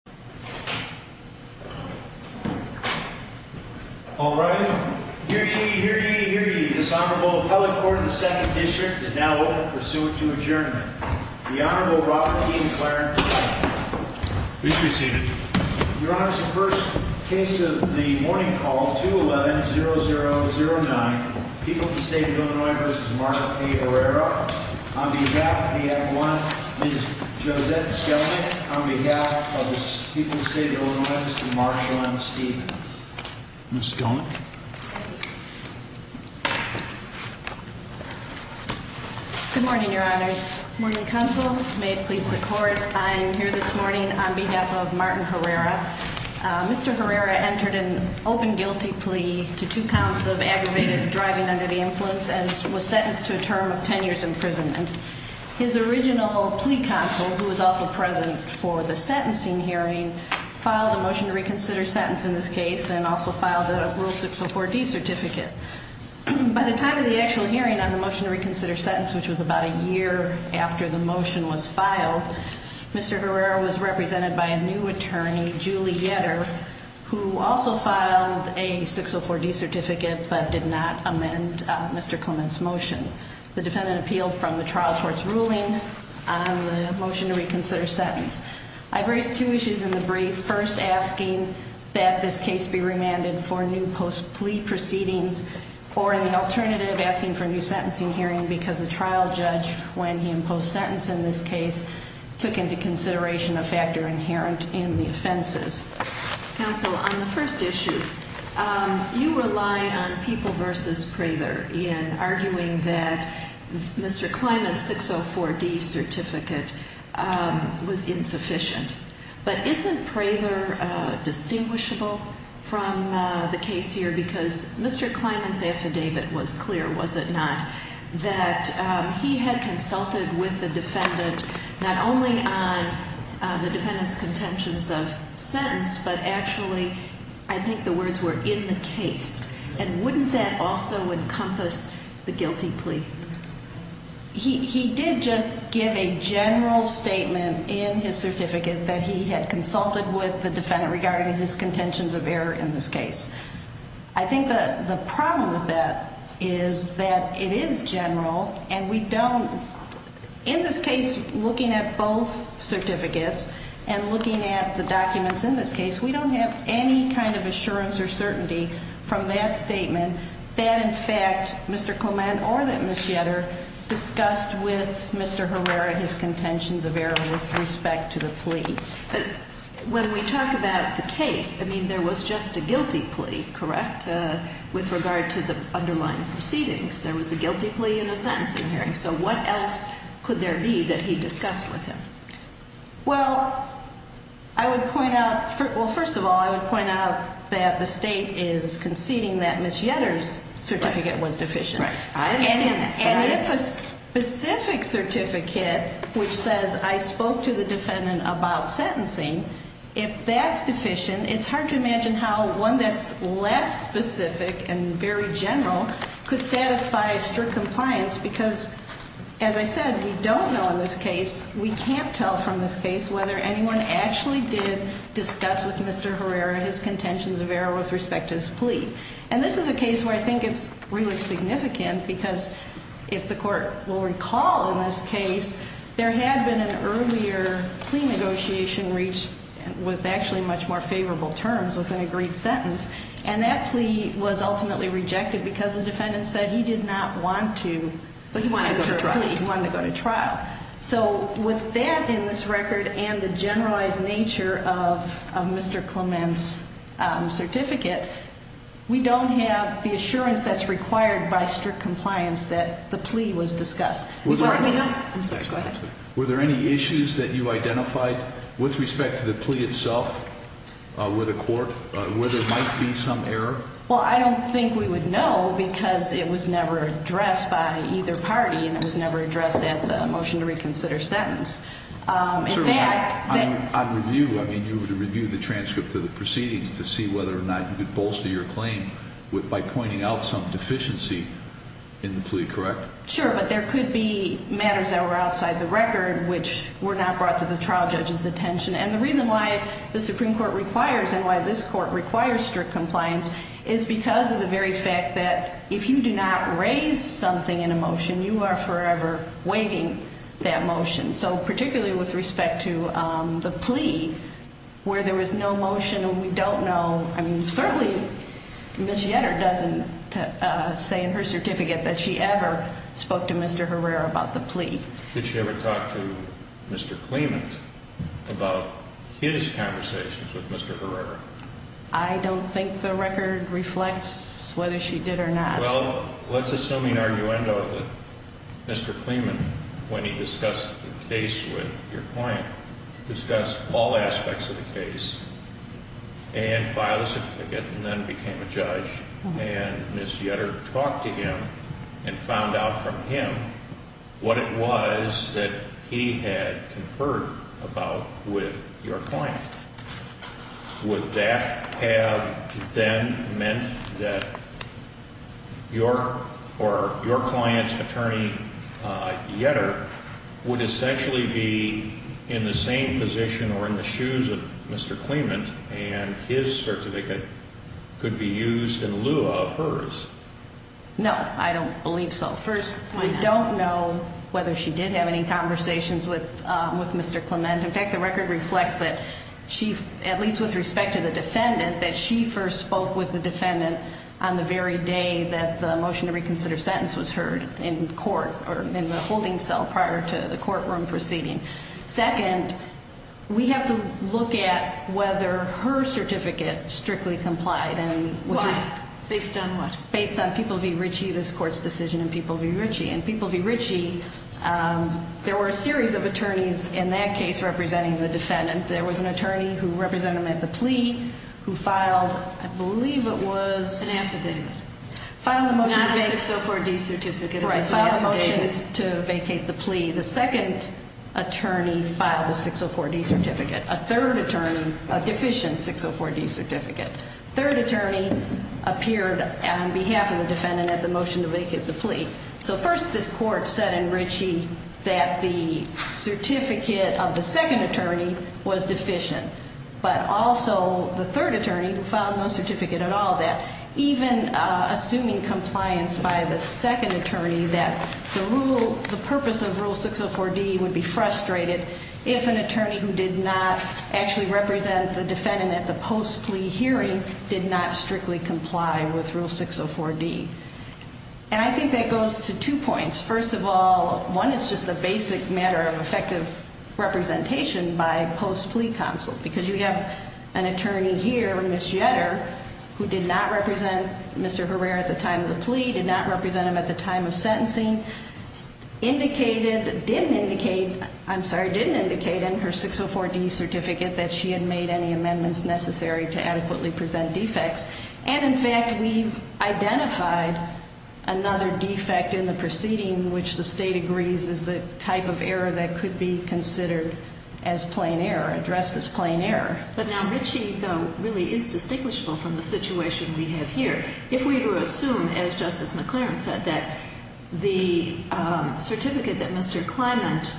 on behalf of the state of Illinois v. Margaret A. Herrera, on behalf of the F1, Ms. Josette Gellman on behalf of the people of the state of Illinois, Mr. Marshall M. Stevens. Ms. Gellman. Good morning, your honors. Morning, counsel. May it please the court, I am here this morning on behalf of Martin Herrera. Mr. Herrera entered an open guilty plea to two counts of aggravated driving under the influence and was sentenced to a term of 10 years imprisonment. His original plea counsel, who was also present for the sentencing hearing, filed a motion to reconsider sentence in this case and also filed a Rule 604D certificate. By the time of the actual hearing on the motion to reconsider sentence, which was about a year after the motion was filed, Mr. Herrera was represented by a new attorney, Julie Yetter, who also filed a 604D certificate but did not amend Mr. Clement's motion. The defendant appealed from the trial court's ruling on the motion to reconsider sentence. I've raised two issues in the brief, first asking that this case be remanded for new post-plea proceedings or in the alternative, asking for a new sentencing hearing because the trial judge, when he imposed sentence in this case, took into consideration a factor inherent in the offenses. Counsel, on the first issue, you rely on People v. Prather in arguing that Mr. Clement's 604D certificate was insufficient. But isn't Prather distinguishable from the case here because Mr. Clement's affidavit was clear, was it not, that he had consulted with the defendant not only on the defendant's contentions of sentence, but actually I think the words were in the case. And wouldn't that also encompass the guilty plea? He did just give a general statement in his certificate that he had consulted with the defendant regarding his contentions of error in this case. I think the problem with that is that it is general and we don't, in this case, looking at both certificates and looking at the documents in this case, we don't have any kind of assurance or certainty from that statement that in fact Mr. Clement or that Ms. Shetter discussed with Mr. Herrera his contentions of error with respect to the plea. When we talk about the case, I mean, there was just a guilty plea, correct, with regard to the underlying proceedings. There was a guilty plea and a sentencing hearing. So what else could there be that he discussed with him? Well, I would point out, well, first of all, I would point out that the State is conceding that Ms. Shetter's certificate was deficient. Right. I understand that. And if a specific certificate which says I spoke to the defendant about sentencing, if that's deficient, it's hard to imagine how one that's less specific and very general could satisfy strict compliance because, as I said, we don't know in this case, we can't tell from this case, whether anyone actually did discuss with Mr. Herrera his contentions of error with respect to his plea. And this is a case where I think it's really significant because if the court will recall in this case, there had been an earlier plea negotiation reached with actually much more favorable terms with an agreed sentence. And that plea was ultimately rejected because the defendant said he did not want to enter a plea. But he wanted to go to trial. He wanted to go to trial. So with that in this record and the generalized nature of Mr. Clement's certificate, we don't have the assurance that's required by strict compliance that the plea was discussed. I'm sorry. Go ahead. Were there any issues that you identified with respect to the plea itself with the court where there might be some error? Well, I don't think we would know because it was never addressed by either party and it was never addressed at the motion to reconsider sentence. In fact, on review, I mean, you would review the transcript of the proceedings to see whether or not you could bolster your claim by pointing out some deficiency in the plea, correct? Sure, but there could be matters that were outside the record which were not brought to the trial judge's attention. And the reason why the Supreme Court requires and why this court requires strict compliance is because of the very fact that if you do not raise something in a motion, you are forever waiving that motion. So particularly with respect to the plea where there was no motion and we don't know, I mean, certainly Ms. Yetter doesn't say in her certificate that she ever spoke to Mr. Herrera about the plea. Did she ever talk to Mr. Clement about his conversations with Mr. Herrera? I don't think the record reflects whether she did or not. Well, let's assume in arguendo that Mr. Clement, when he discussed the case with your client, discussed all aspects of the case and filed a certificate and then became a judge. And Ms. Yetter talked to him and found out from him what it was that he had conferred about with your client. Would that have then meant that your client's attorney, Yetter, would essentially be in the same position or in the shoes of Mr. Clement and his certificate could be used in lieu of hers? No, I don't believe so. First, we don't know whether she did have any conversations with Mr. Clement. In fact, the record reflects that she, at least with respect to the defendant, that she first spoke with the defendant on the very day that the motion to reconsider sentence was heard in court or in the holding cell prior to the courtroom proceeding. Second, we have to look at whether her certificate strictly complied. Why? Based on what? Based on People v. Ritchie, this Court's decision in People v. Ritchie. In People v. Ritchie, there were a series of attorneys in that case representing the defendant. There was an attorney who represented them at the plea who filed, I believe it was... An affidavit. Filed a motion to vacate... Not a 604D certificate. Right, filed a motion to vacate the plea. The second attorney filed a 604D certificate. A third attorney, a deficient 604D certificate. Third attorney appeared on behalf of the defendant at the motion to vacate the plea. So first, this Court said in Ritchie that the certificate of the second attorney was deficient. But also, the third attorney, who filed no certificate at all, that even assuming compliance by the second attorney, that the purpose of Rule 604D would be frustrated if an attorney who did not actually represent the defendant at the post-plea hearing did not strictly comply with Rule 604D. And I think that goes to two points. First of all, one is just a basic matter of effective representation by post-plea counsel. Because you have an attorney here, Ms. Jetter, who did not represent Mr. Herrera at the time of the plea, did not represent him at the time of sentencing, indicated, didn't indicate, I'm sorry, didn't indicate in her 604D certificate that she had made any amendments necessary to adequately present defects. And in fact, we've identified another defect in the proceeding, which the state agrees is the type of error that could be considered as plain error, addressed as plain error. But now, Richie, though, really is distinguishable from the situation we have here. If we were to assume, as Justice McLaren said, that the certificate that Mr. Clement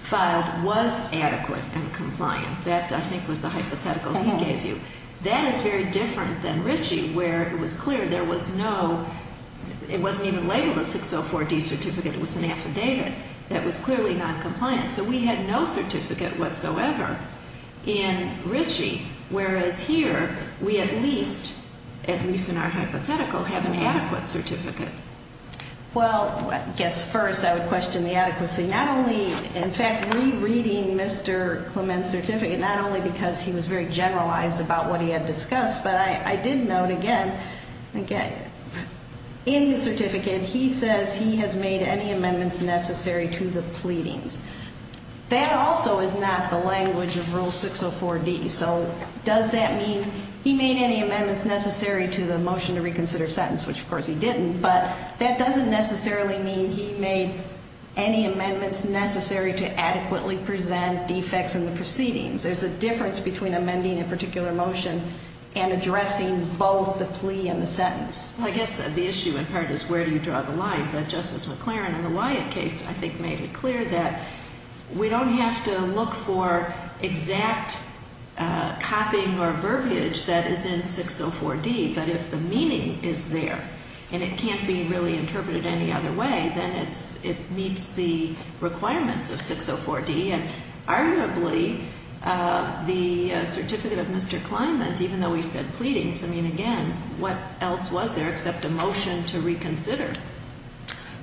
filed was adequate and compliant, that I think was the hypothetical he gave you, that is very different than Richie, where it was clear there was no, it wasn't even labeled a 604D certificate, it was an affidavit, that was clearly not compliant. So we had no certificate whatsoever in Richie, whereas here we at least, at least in our hypothetical, have an adequate certificate. Well, I guess first I would question the adequacy. Not only, in fact, rereading Mr. Clement's certificate, not only because he was very generalized about what he had discussed, but I did note again, in his certificate, he says he has made any amendments necessary to the pleadings. That also is not the language of Rule 604D. So does that mean he made any amendments necessary to the motion to reconsider sentence, which of course he didn't, but that doesn't necessarily mean he made any amendments necessary to adequately present defects in the proceedings. There's a difference between amending a particular motion and addressing both the plea and the sentence. Well, I guess the issue in part is where do you draw the line, but Justice McLaren in the Wyatt case, I think, made it clear that we don't have to look for exact copying or verbiage that is in 604D, but if the meaning is there and it can't be really interpreted any other way, then it meets the requirements of 604D, and arguably the certificate of Mr. Clement, even though he said pleadings, I mean, again, what else was there except a motion to reconsider?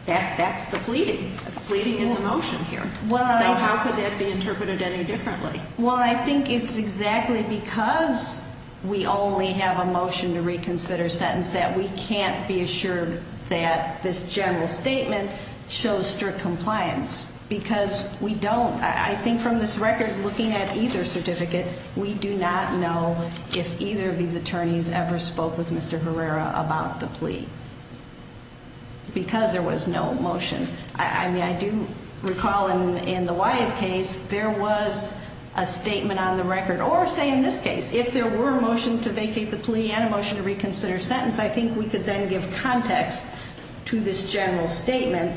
That's the pleading. The pleading is a motion here. So how could that be interpreted any differently? Well, I think it's exactly because we only have a motion to reconsider sentence that we can't be assured that this general statement shows strict compliance because we don't. I think from this record, looking at either certificate, we do not know if either of these attorneys ever spoke with Mr. Herrera about the plea because there was no motion. I mean, I do recall in the Wyatt case there was a statement on the record, or say in this case, if there were a motion to vacate the plea and a motion to reconsider sentence, I think we could then give context to this general statement,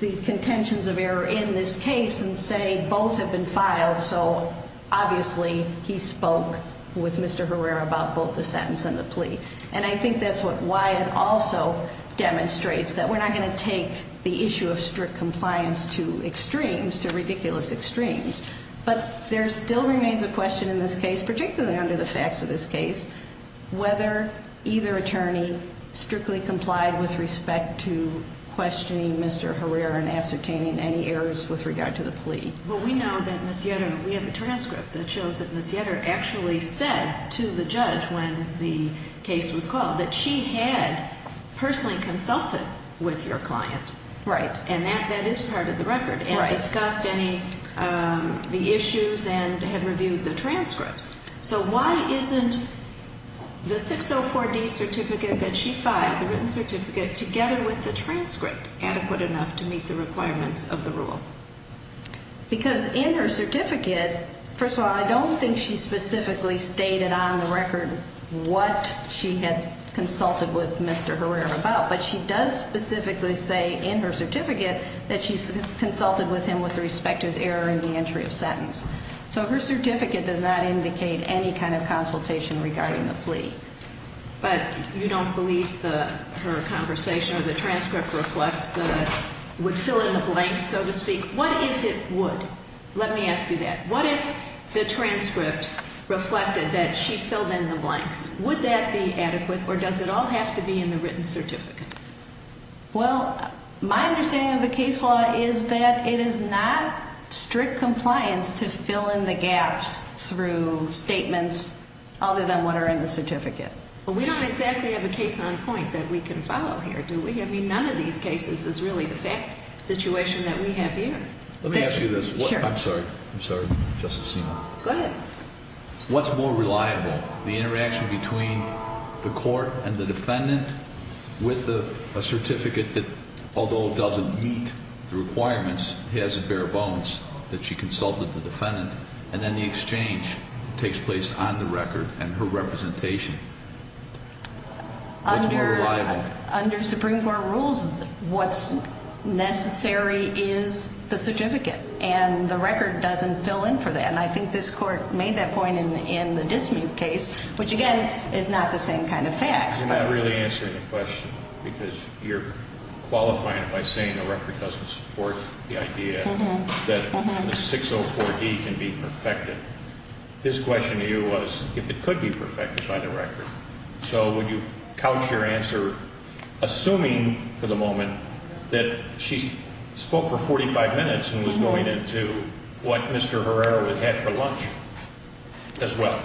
the contentions of error in this case and say both have been filed, so obviously he spoke with Mr. Herrera about both the sentence and the plea. And I think that's what Wyatt also demonstrates, that we're not going to take the issue of strict compliance to extremes, to ridiculous extremes. But there still remains a question in this case, particularly under the facts of this case, whether either attorney strictly complied with respect to questioning Mr. Herrera and ascertaining any errors with regard to the plea. Well, we know that Ms. Yetter, we have a transcript that shows that Ms. Yetter actually said to the judge when the case was called that she had personally consulted with your client. Right. And that is part of the record. Right. And discussed any, the issues and had reviewed the transcripts. So why isn't the 604D certificate that she filed, the written certificate, together with the transcript adequate enough to meet the requirements of the rule? Because in her certificate, first of all, I don't think she specifically stated on the record what she had consulted with Mr. Herrera about, but she does specifically say in her certificate that she's consulted with him with respect to his error in the entry of sentence. So her certificate does not indicate any kind of consultation regarding the plea. But you don't believe her conversation or the transcript reflects, would fill in the blanks, so to speak. What if it would? Let me ask you that. What if the transcript reflected that she filled in the blanks? Would that be adequate or does it all have to be in the written certificate? Well, my understanding of the case law is that it is not strict compliance to fill in the gaps through statements other than what are in the certificate. Well, we don't exactly have a case on point that we can follow here, do we? I mean, none of these cases is really the fact situation that we have here. Let me ask you this. Sure. I'm sorry. I'm sorry. Go ahead. What's more reliable? The interaction between the court and the defendant with a certificate that, although it doesn't meet the requirements, he has it bare bones that she consulted the defendant, and then the exchange takes place on the record and her representation. That's more reliable. Under Supreme Court rules, what's necessary is the certificate, and the record doesn't fill in for that. And I think this Court made that point in the dismute case, which, again, is not the same kind of facts. You're not really answering the question because you're qualifying it by saying the record doesn't support the idea that the 604D can be perfected. His question to you was if it could be perfected by the record. So would you couch your answer, assuming for the moment that she spoke for 45 minutes and was going into what Mr. Herrera had had for lunch as well?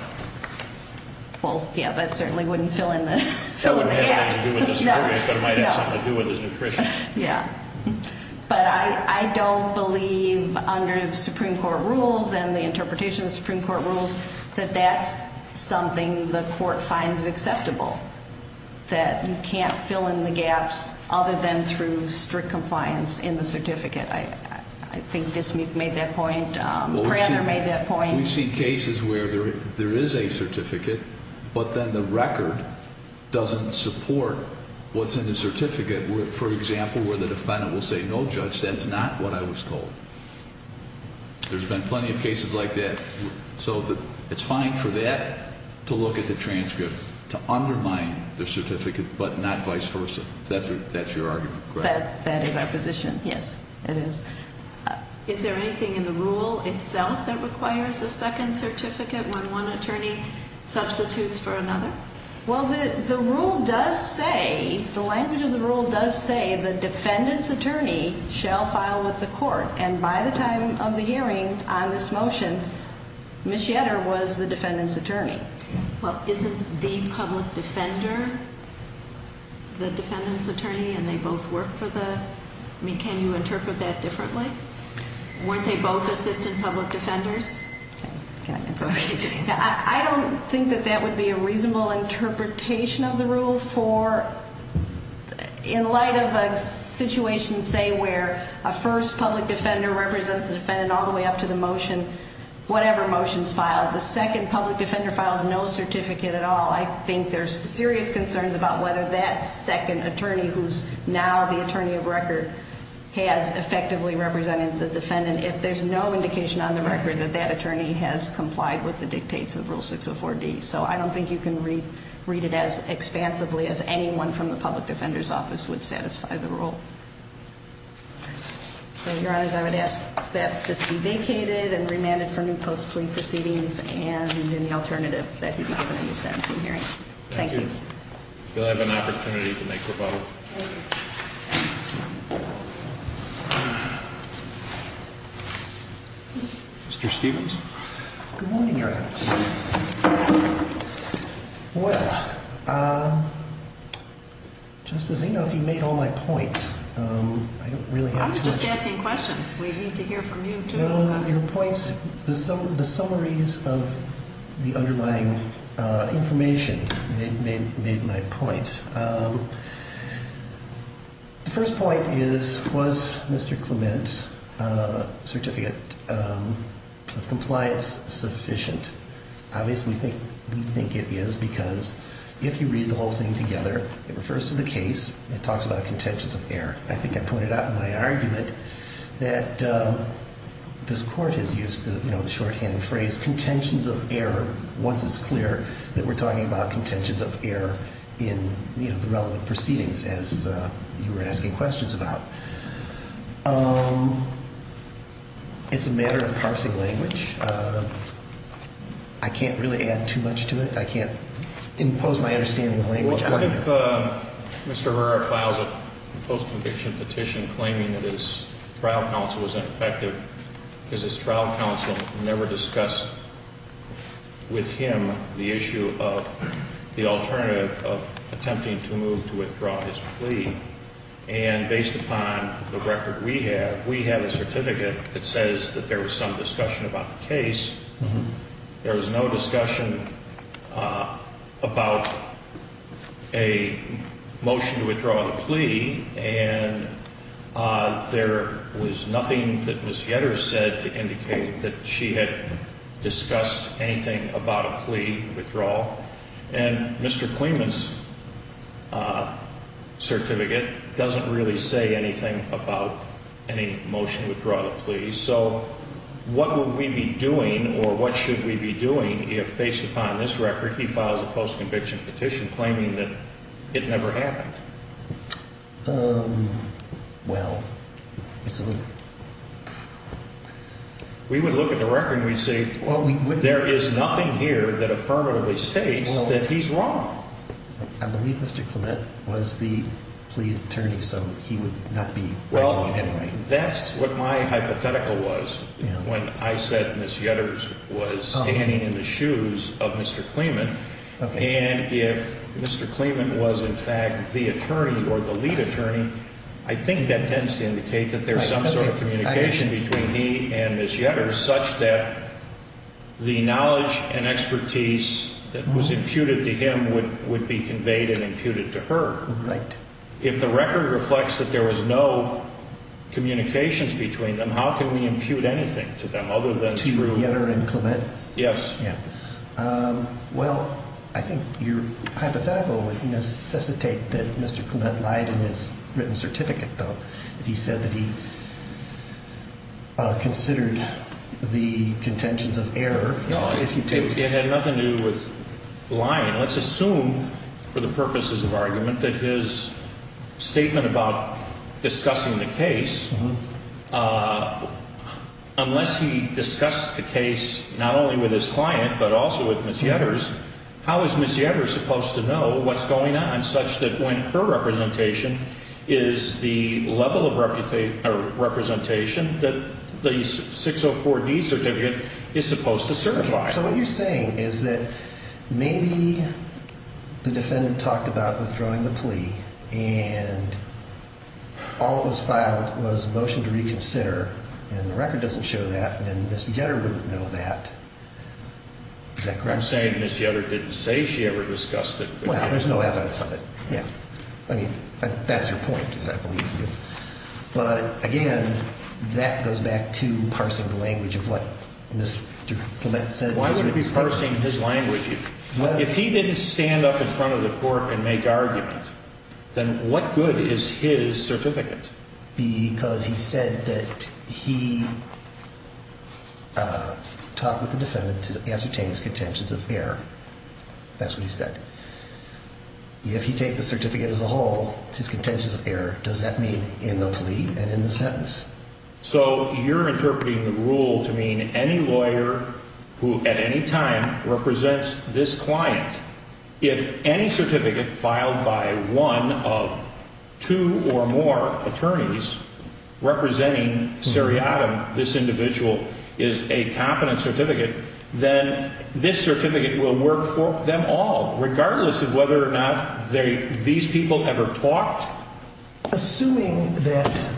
Well, yeah, that certainly wouldn't fill in the gaps. It wouldn't have anything to do with the certificate, but it might have something to do with his nutrition. Yeah. But I don't believe under the Supreme Court rules and the interpretation of the Supreme Court rules that that's something the court finds acceptable, that you can't fill in the gaps other than through strict compliance in the certificate. I think Dismute made that point. Herrera made that point. We've seen cases where there is a certificate, but then the record doesn't support what's in the certificate, for example, where the defendant will say, no, Judge, that's not what I was told. There's been plenty of cases like that. So it's fine for that to look at the transcript, to undermine the certificate, but not vice versa. That's your argument, correct? That is our position, yes, it is. Is there anything in the rule itself that requires a second certificate when one attorney substitutes for another? Well, the rule does say, the language of the rule does say the defendant's attorney shall file with the court, and by the time of the hearing on this motion, Ms. Yetter was the defendant's attorney. Well, isn't the public defender the defendant's attorney, and they both work for the? I mean, can you interpret that differently? Weren't they both assistant public defenders? Can I answer? I don't think that that would be a reasonable interpretation of the rule for, in light of a situation, say, where a first public defender represents the defendant all the way up to the motion, whatever motion is filed, the second public defender files no certificate at all. I think there's serious concerns about whether that second attorney, who's now the attorney of record, has effectively represented the defendant if there's no indication on the record that that attorney has complied with the dictates of Rule 604D. So I don't think you can read it as expansively as anyone from the public defender's office would satisfy the rule. So, Your Honors, I would ask that this be vacated and remanded for new post-plea proceedings and any alternative that he might have in a new sentencing hearing. Thank you. You'll have an opportunity to make rebuttal. Thank you. Mr. Stevens? Good morning, Your Honors. Good morning. Well, Justice Eno, if you made all my points, I don't really have to answer them. I was just asking questions. We need to hear from you, too. No, no, your points, the summaries of the underlying information made my points. The first point is, was Mr. Clement's certificate of compliance sufficient? Obviously, we think it is, because if you read the whole thing together, it refers to the case. It talks about contentions of error. I think I pointed out in my argument that this Court has used the shorthand phrase, contentions of error, once it's clear that we're talking about contentions of error in the relevant proceedings, as you were asking questions about. It's a matter of parsing language. I can't really add too much to it. I can't impose my understanding of the language. What if Mr. Herrera files a post-conviction petition claiming that his trial counsel was ineffective because his trial counsel never discussed with him the issue of the alternative of attempting to move to withdraw his plea, and based upon the record we have, we have a certificate that says that there was some discussion about the case. There was no discussion about a motion to withdraw the plea, and there was nothing that Ms. Yetter said to indicate that she had discussed anything about a plea withdrawal. And Mr. Clement's certificate doesn't really say anything about any motion to withdraw the plea, so what would we be doing or what should we be doing if, based upon this record, he files a post-conviction petition claiming that it never happened? Well, it's a little... We would look at the record and we'd say there is nothing here that affirmatively states that he's wrong. I believe Mr. Clement was the plea attorney, so he would not be right or wrong anyway. Well, that's what my hypothetical was when I said Ms. Yetter was standing in the shoes of Mr. Clement. And if Mr. Clement was, in fact, the attorney or the lead attorney, I think that tends to indicate that there's some sort of communication between he and Ms. Yetter such that the knowledge and expertise that was imputed to him would be conveyed and imputed to her. Right. If the record reflects that there was no communications between them, how can we impute anything to them other than through... To Yetter and Clement? Yes. Well, I think your hypothetical would necessitate that Mr. Clement lied in his written certificate, though, if he said that he considered the contentions of error. No, it had nothing to do with lying. Let's assume, for the purposes of argument, that his statement about discussing the case, unless he discussed the case not only with his client but also with Ms. Yetter's, how is Ms. Yetter supposed to know what's going on such that when her representation is the level of representation that the 604D certificate is supposed to certify? So what you're saying is that maybe the defendant talked about withdrawing the plea and all that was filed was a motion to reconsider, and the record doesn't show that, and Ms. Yetter wouldn't know that. Is that correct? I'm saying Ms. Yetter didn't say she ever discussed it. Well, there's no evidence of it. Yeah. I mean, that's your point, I believe. But, again, that goes back to parsing the language of what Mr. Clement said. Why would he be parsing his language? If he didn't stand up in front of the court and make argument, then what good is his certificate? Because he said that he talked with the defendant to ascertain his contentions of error. That's what he said. If he takes the certificate as a whole, his contentions of error, does that mean in the plea and in the sentence? So you're interpreting the rule to mean any lawyer who at any time represents this client, if any certificate filed by one of two or more attorneys representing Sariadam, this individual, is a competent certificate, then this certificate will work for them all, regardless of whether or not these people ever talked? Assuming that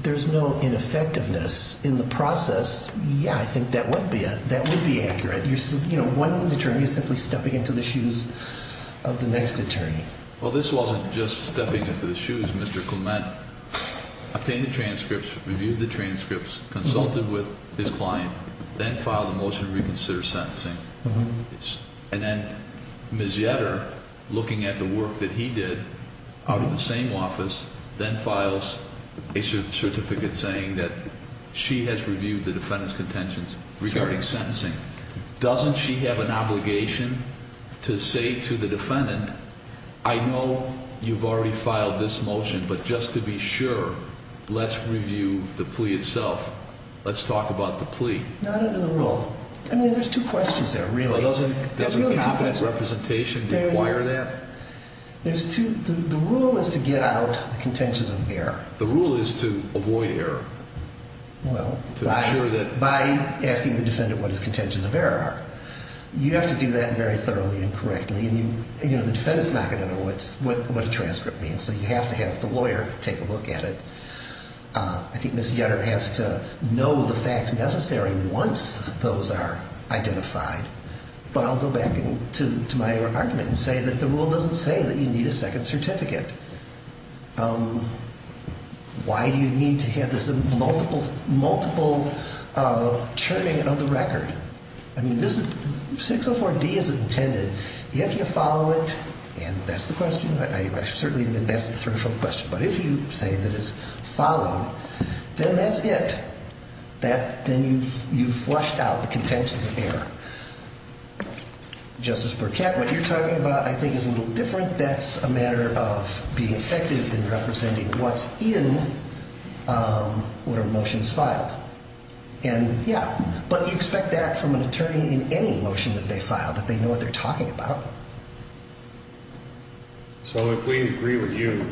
there's no ineffectiveness in the process, yeah, I think that would be accurate. One attorney is simply stepping into the shoes of the next attorney. Well, this wasn't just stepping into the shoes. Mr. Clement obtained the transcripts, reviewed the transcripts, consulted with his client, then filed a motion to reconsider sentencing. And then Ms. Yetter, looking at the work that he did out of the same office, then files a certificate saying that she has reviewed the defendant's contentions regarding sentencing. Doesn't she have an obligation to say to the defendant, I know you've already filed this motion, but just to be sure, let's review the plea itself. Let's talk about the plea. Not under the rule. I mean, there's two questions there, really. Doesn't competent representation require that? The rule is to get out the contentions of error. The rule is to avoid error. Well, by asking the defendant what his contentions of error are. You have to do that very thoroughly and correctly, and the defendant's not going to know what a transcript means, so you have to have the lawyer take a look at it. I think Ms. Yetter has to know the facts necessary once those are identified, but I'll go back to my argument and say that the rule doesn't say that you need a second certificate. Why do you need to have this multiple churning of the record? I mean, 604D is intended. If you follow it, and that's the question, I certainly admit that's the threshold question, but if you say that it's followed, then that's it. Then you've flushed out the contentions of error. Justice Burkett, what you're talking about I think is a little different. That's a matter of being effective in representing what's in whatever motion is filed. And, yeah, but you expect that from an attorney in any motion that they file, that they know what they're talking about. So if we agree with you,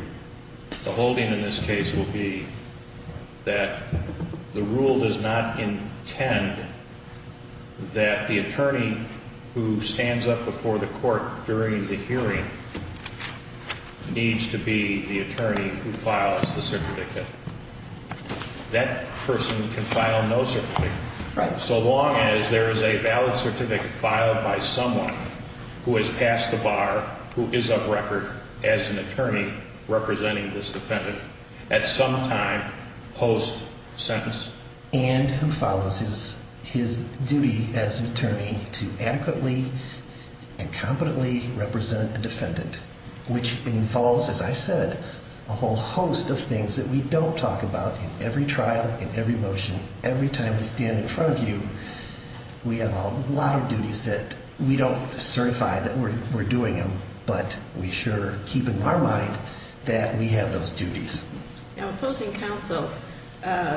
the holding in this case will be that the rule does not intend that the attorney who stands up before the court during the hearing needs to be the attorney who files the certificate. That person can file no certificate. Right. So long as there is a valid certificate filed by someone who has passed the bar, who is of record as an attorney representing this defendant at some time post-sentence. And who follows his duty as an attorney to adequately and competently represent a defendant, which involves, as I said, a whole host of things that we don't talk about in every trial, in every motion, every time we stand in front of you. We have a lot of duties that we don't certify that we're doing them, but we sure keep in our mind that we have those duties. Now, opposing counsel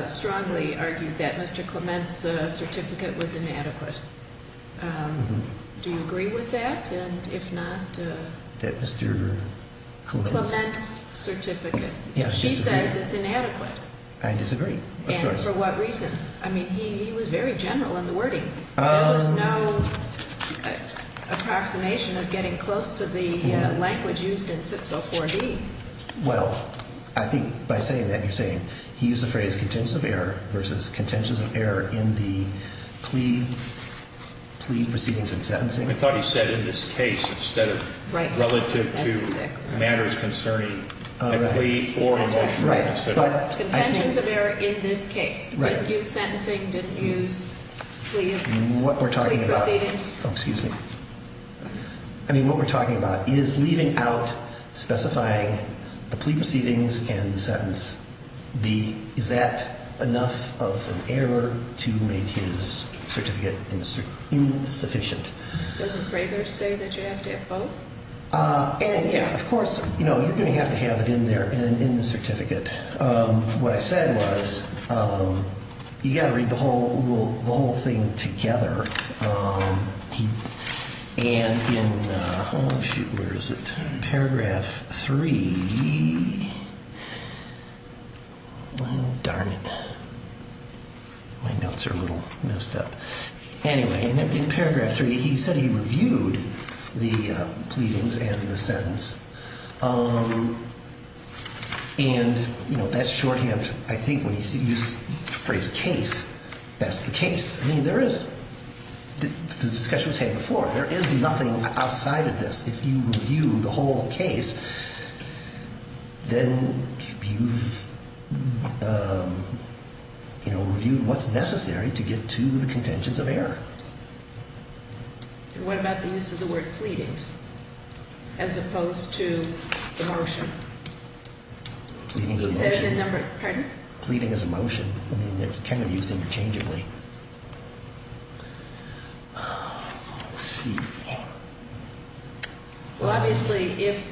strongly argued that Mr. Clement's certificate was inadequate. Do you agree with that? And if not- That Mr. Clement's- Clement's certificate. She says it's inadequate. I disagree, of course. And for what reason? I mean, he was very general in the wording. There was no approximation of getting close to the language used in 604B. Well, I think by saying that you're saying he used the phrase contentious of error versus contentious of error in the plea proceedings and sentencing. I thought he said in this case instead of relative to matters concerning the plea or the motion. Right. But I think- Contentious of error in this case. Right. Didn't use sentencing. Didn't use plea proceedings. What we're talking about- Oh, excuse me. I mean, what we're talking about is leaving out specifying the plea proceedings and the sentence. Is that enough of an error to make his certificate insufficient? Doesn't Crager say that you have to have both? And, yeah, of course, you're going to have to have it in there in the certificate. What I said was you've got to read the whole thing together. And in- oh, shoot. Where is it? Paragraph 3. Well, darn it. My notes are a little messed up. Anyway, in paragraph 3, he said he reviewed the pleadings and the sentence. And, you know, that's shorthand. I think when you use the phrase case, that's the case. I mean, there is- the discussion was had before. There is nothing outside of this. If you review the whole case, then you've, you know, reviewed what's necessary to get to the contentions of error. And what about the use of the word pleadings as opposed to the motion? Pleading is a motion. He says in number- pardon? Pleading is a motion. I mean, they're kind of used interchangeably. Let's see. Well, obviously, if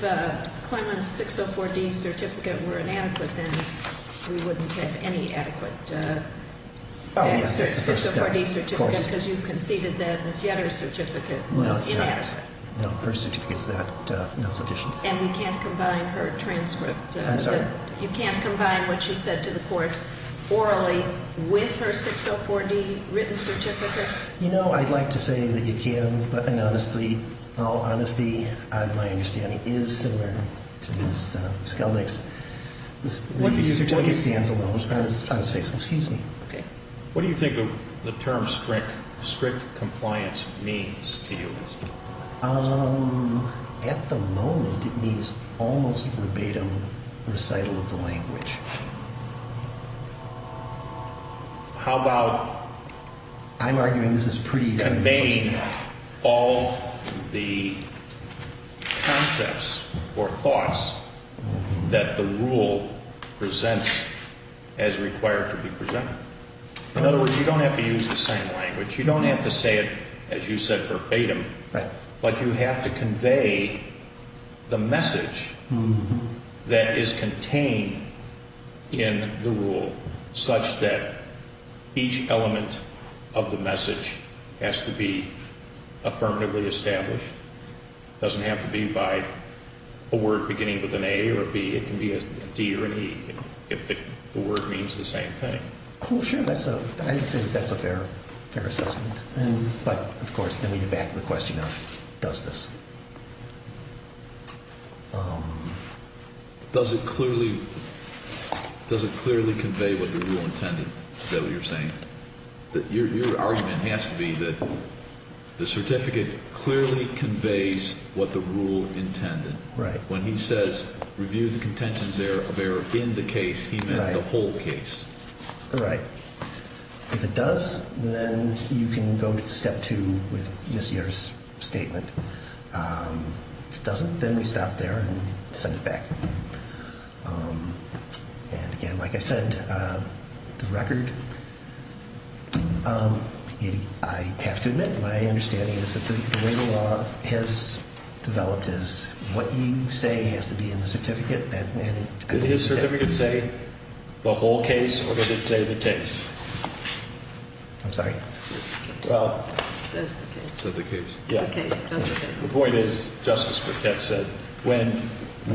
Clement's 604D certificate were inadequate, then we wouldn't have any adequate 604D certificate. Because you conceded that Ms. Yetter's certificate was inadequate. No, her certificate is not sufficient. And we can't combine her transcript. I'm sorry? You can't combine what she said to the court orally with her 604D written certificate? You know, I'd like to say that you can, but in all honesty, my understanding is similar to Ms. Skelnick's. What do you think the term strict compliance means to you? At the moment, it means almost verbatim recital of the language. How about- I'm arguing this is pretty- Conveying all the concepts or thoughts that the rule presents as required to be presented. In other words, you don't have to use the same language. You don't have to say it, as you said, verbatim. But you have to convey the message that is contained in the rule such that each element of the message has to be affirmatively established. It doesn't have to be by a word beginning with an A or a B. It can be a D or an E, if the word means the same thing. Oh, sure. I'd say that's a fair assessment. But, of course, then we get back to the question of does this- Does it clearly convey what the rule intended? Is that what you're saying? Your argument has to be that the certificate clearly conveys what the rule intended. Right. When he says review the contentions of error in the case, he meant the whole case. Right. If it does, then you can go to step two with Ms. Yerr's statement. If it doesn't, then we stop there and send it back. And, again, like I said, the record, I have to admit, my understanding is that the way the law has developed is what you say has to be in the certificate. Did his certificate say the whole case or did it say the case? I'm sorry? It says the case. It says the case. It said the case. The case. The point is, Justice Paquette said, when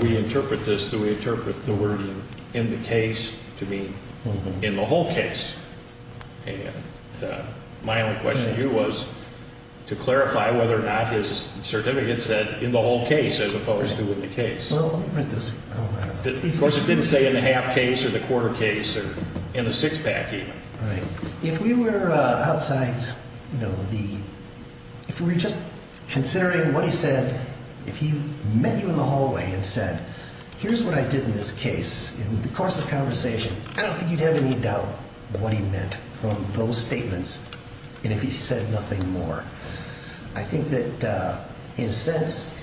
we interpret this, do we interpret the wording in the case to mean in the whole case? And my only question to you was to clarify whether or not his certificate said in the whole case as opposed to in the case. Well, let me read this. Of course, it didn't say in the half case or the quarter case or in the six pack even. All right. If we were outside, you know, if we were just considering what he said, if he met you in the hallway and said, here's what I did in this case, in the course of conversation, I don't think you'd have any doubt what he meant from those statements and if he said nothing more. I think that in a sense,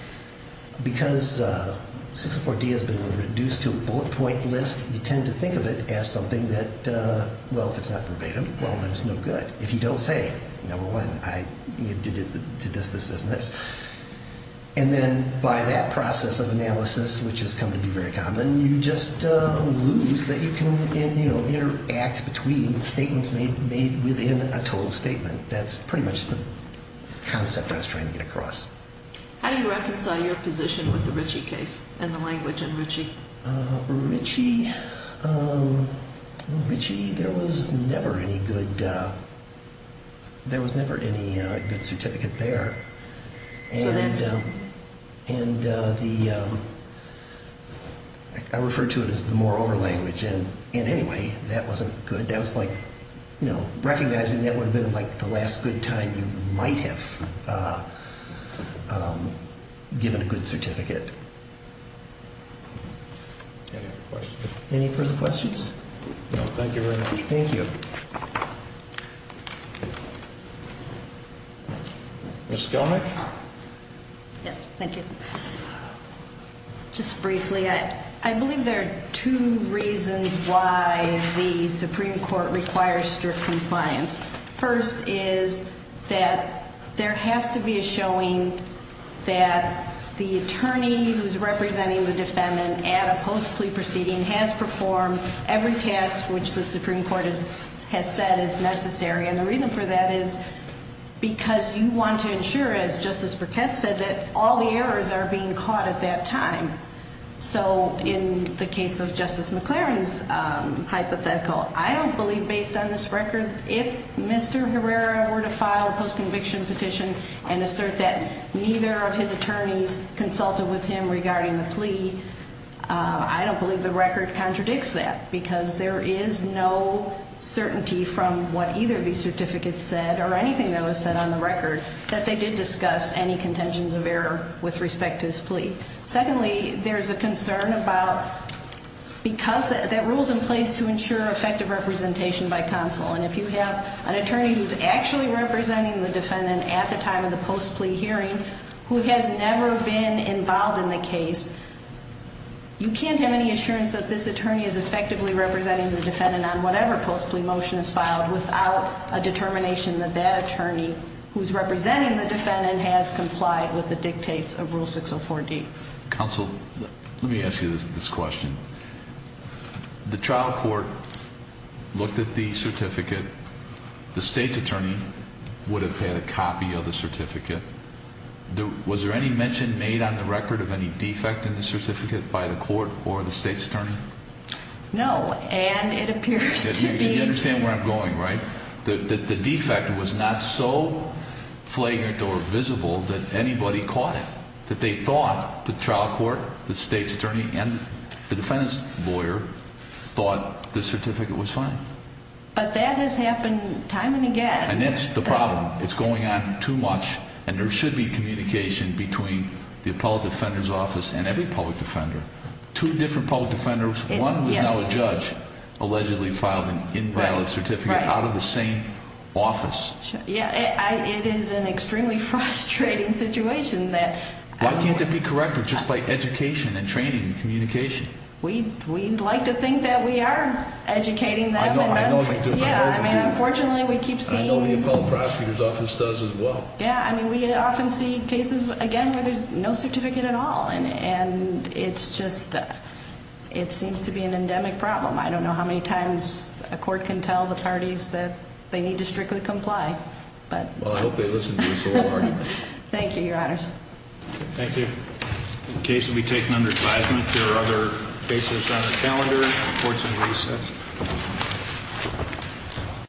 because 604D has been reduced to a bullet point list, you tend to think of it as something that, well, if it's not verbatim, well, then it's no good. If you don't say, number one, I did this, this, this, and this, and then by that process of analysis, which has come to be very common, you just lose that you can, you know, interact between statements made within a total statement. That's pretty much the concept I was trying to get across. How do you reconcile your position with the Ritchie case and the language in Ritchie? Ritchie, there was never any good, there was never any good certificate there. So that's... And the, I refer to it as the more over language, and anyway, that wasn't good. That was like, you know, recognizing that would have been like the last good time you might have given a good certificate. Any further questions? No, thank you very much. Thank you. Ms. Skelnick? Yes, thank you. Just briefly, I believe there are two reasons why the Supreme Court requires strict compliance. First is that there has to be a showing that the attorney who's representing the defendant at a post-plea proceeding has performed every task which the Supreme Court has said is necessary. And the reason for that is because you want to ensure, as Justice Burkett said, that all the errors are being caught at that time. So in the case of Justice McLaren's hypothetical, I don't believe, based on this record, if Mr. Herrera were to file a post-conviction petition and assert that neither of his attorneys consulted with him regarding the plea, I don't believe the record contradicts that because there is no certainty from what either of these certificates said or anything that was said on the record that they did discuss any contentions of error with respect to his plea. Secondly, there's a concern about, because that rule's in place to ensure effective representation by counsel, and if you have an attorney who's actually representing the defendant at the time of the post-plea hearing who has never been involved in the case, you can't have any assurance that this attorney is effectively representing the defendant on whatever post-plea motion is filed without a determination that that attorney who's representing the defendant has complied with the dictates of Rule 604D. Counsel, let me ask you this question. The trial court looked at the certificate. The state's attorney would have had a copy of the certificate. Was there any mention made on the record of any defect in the certificate by the court or the state's attorney? No, and it appears to be... You understand where I'm going, right? The defect was not so flagrant or visible that anybody caught it, that they thought the trial court, the state's attorney, and the defendant's lawyer thought the certificate was fine. But that has happened time and again. And that's the problem. It's going on too much, and there should be communication between the appellate defender's office and every public defender. Two different public defenders, one was now a judge, allegedly filed an inviolate certificate out of the same office. Yeah, it is an extremely frustrating situation that... Why can't it be corrected just by education and training and communication? We'd like to think that we are educating them. I know, I know. Yeah, I mean, unfortunately, we keep seeing... I know the appellate prosecutor's office does as well. Yeah, I mean, we often see cases, again, where there's no certificate at all. And it's just, it seems to be an endemic problem. I don't know how many times a court can tell the parties that they need to strictly comply. Well, I hope they listen to us a little harder. Thank you, Your Honors. Thank you. The case will be taken under advisement. There are other cases on the calendar, courts in recess.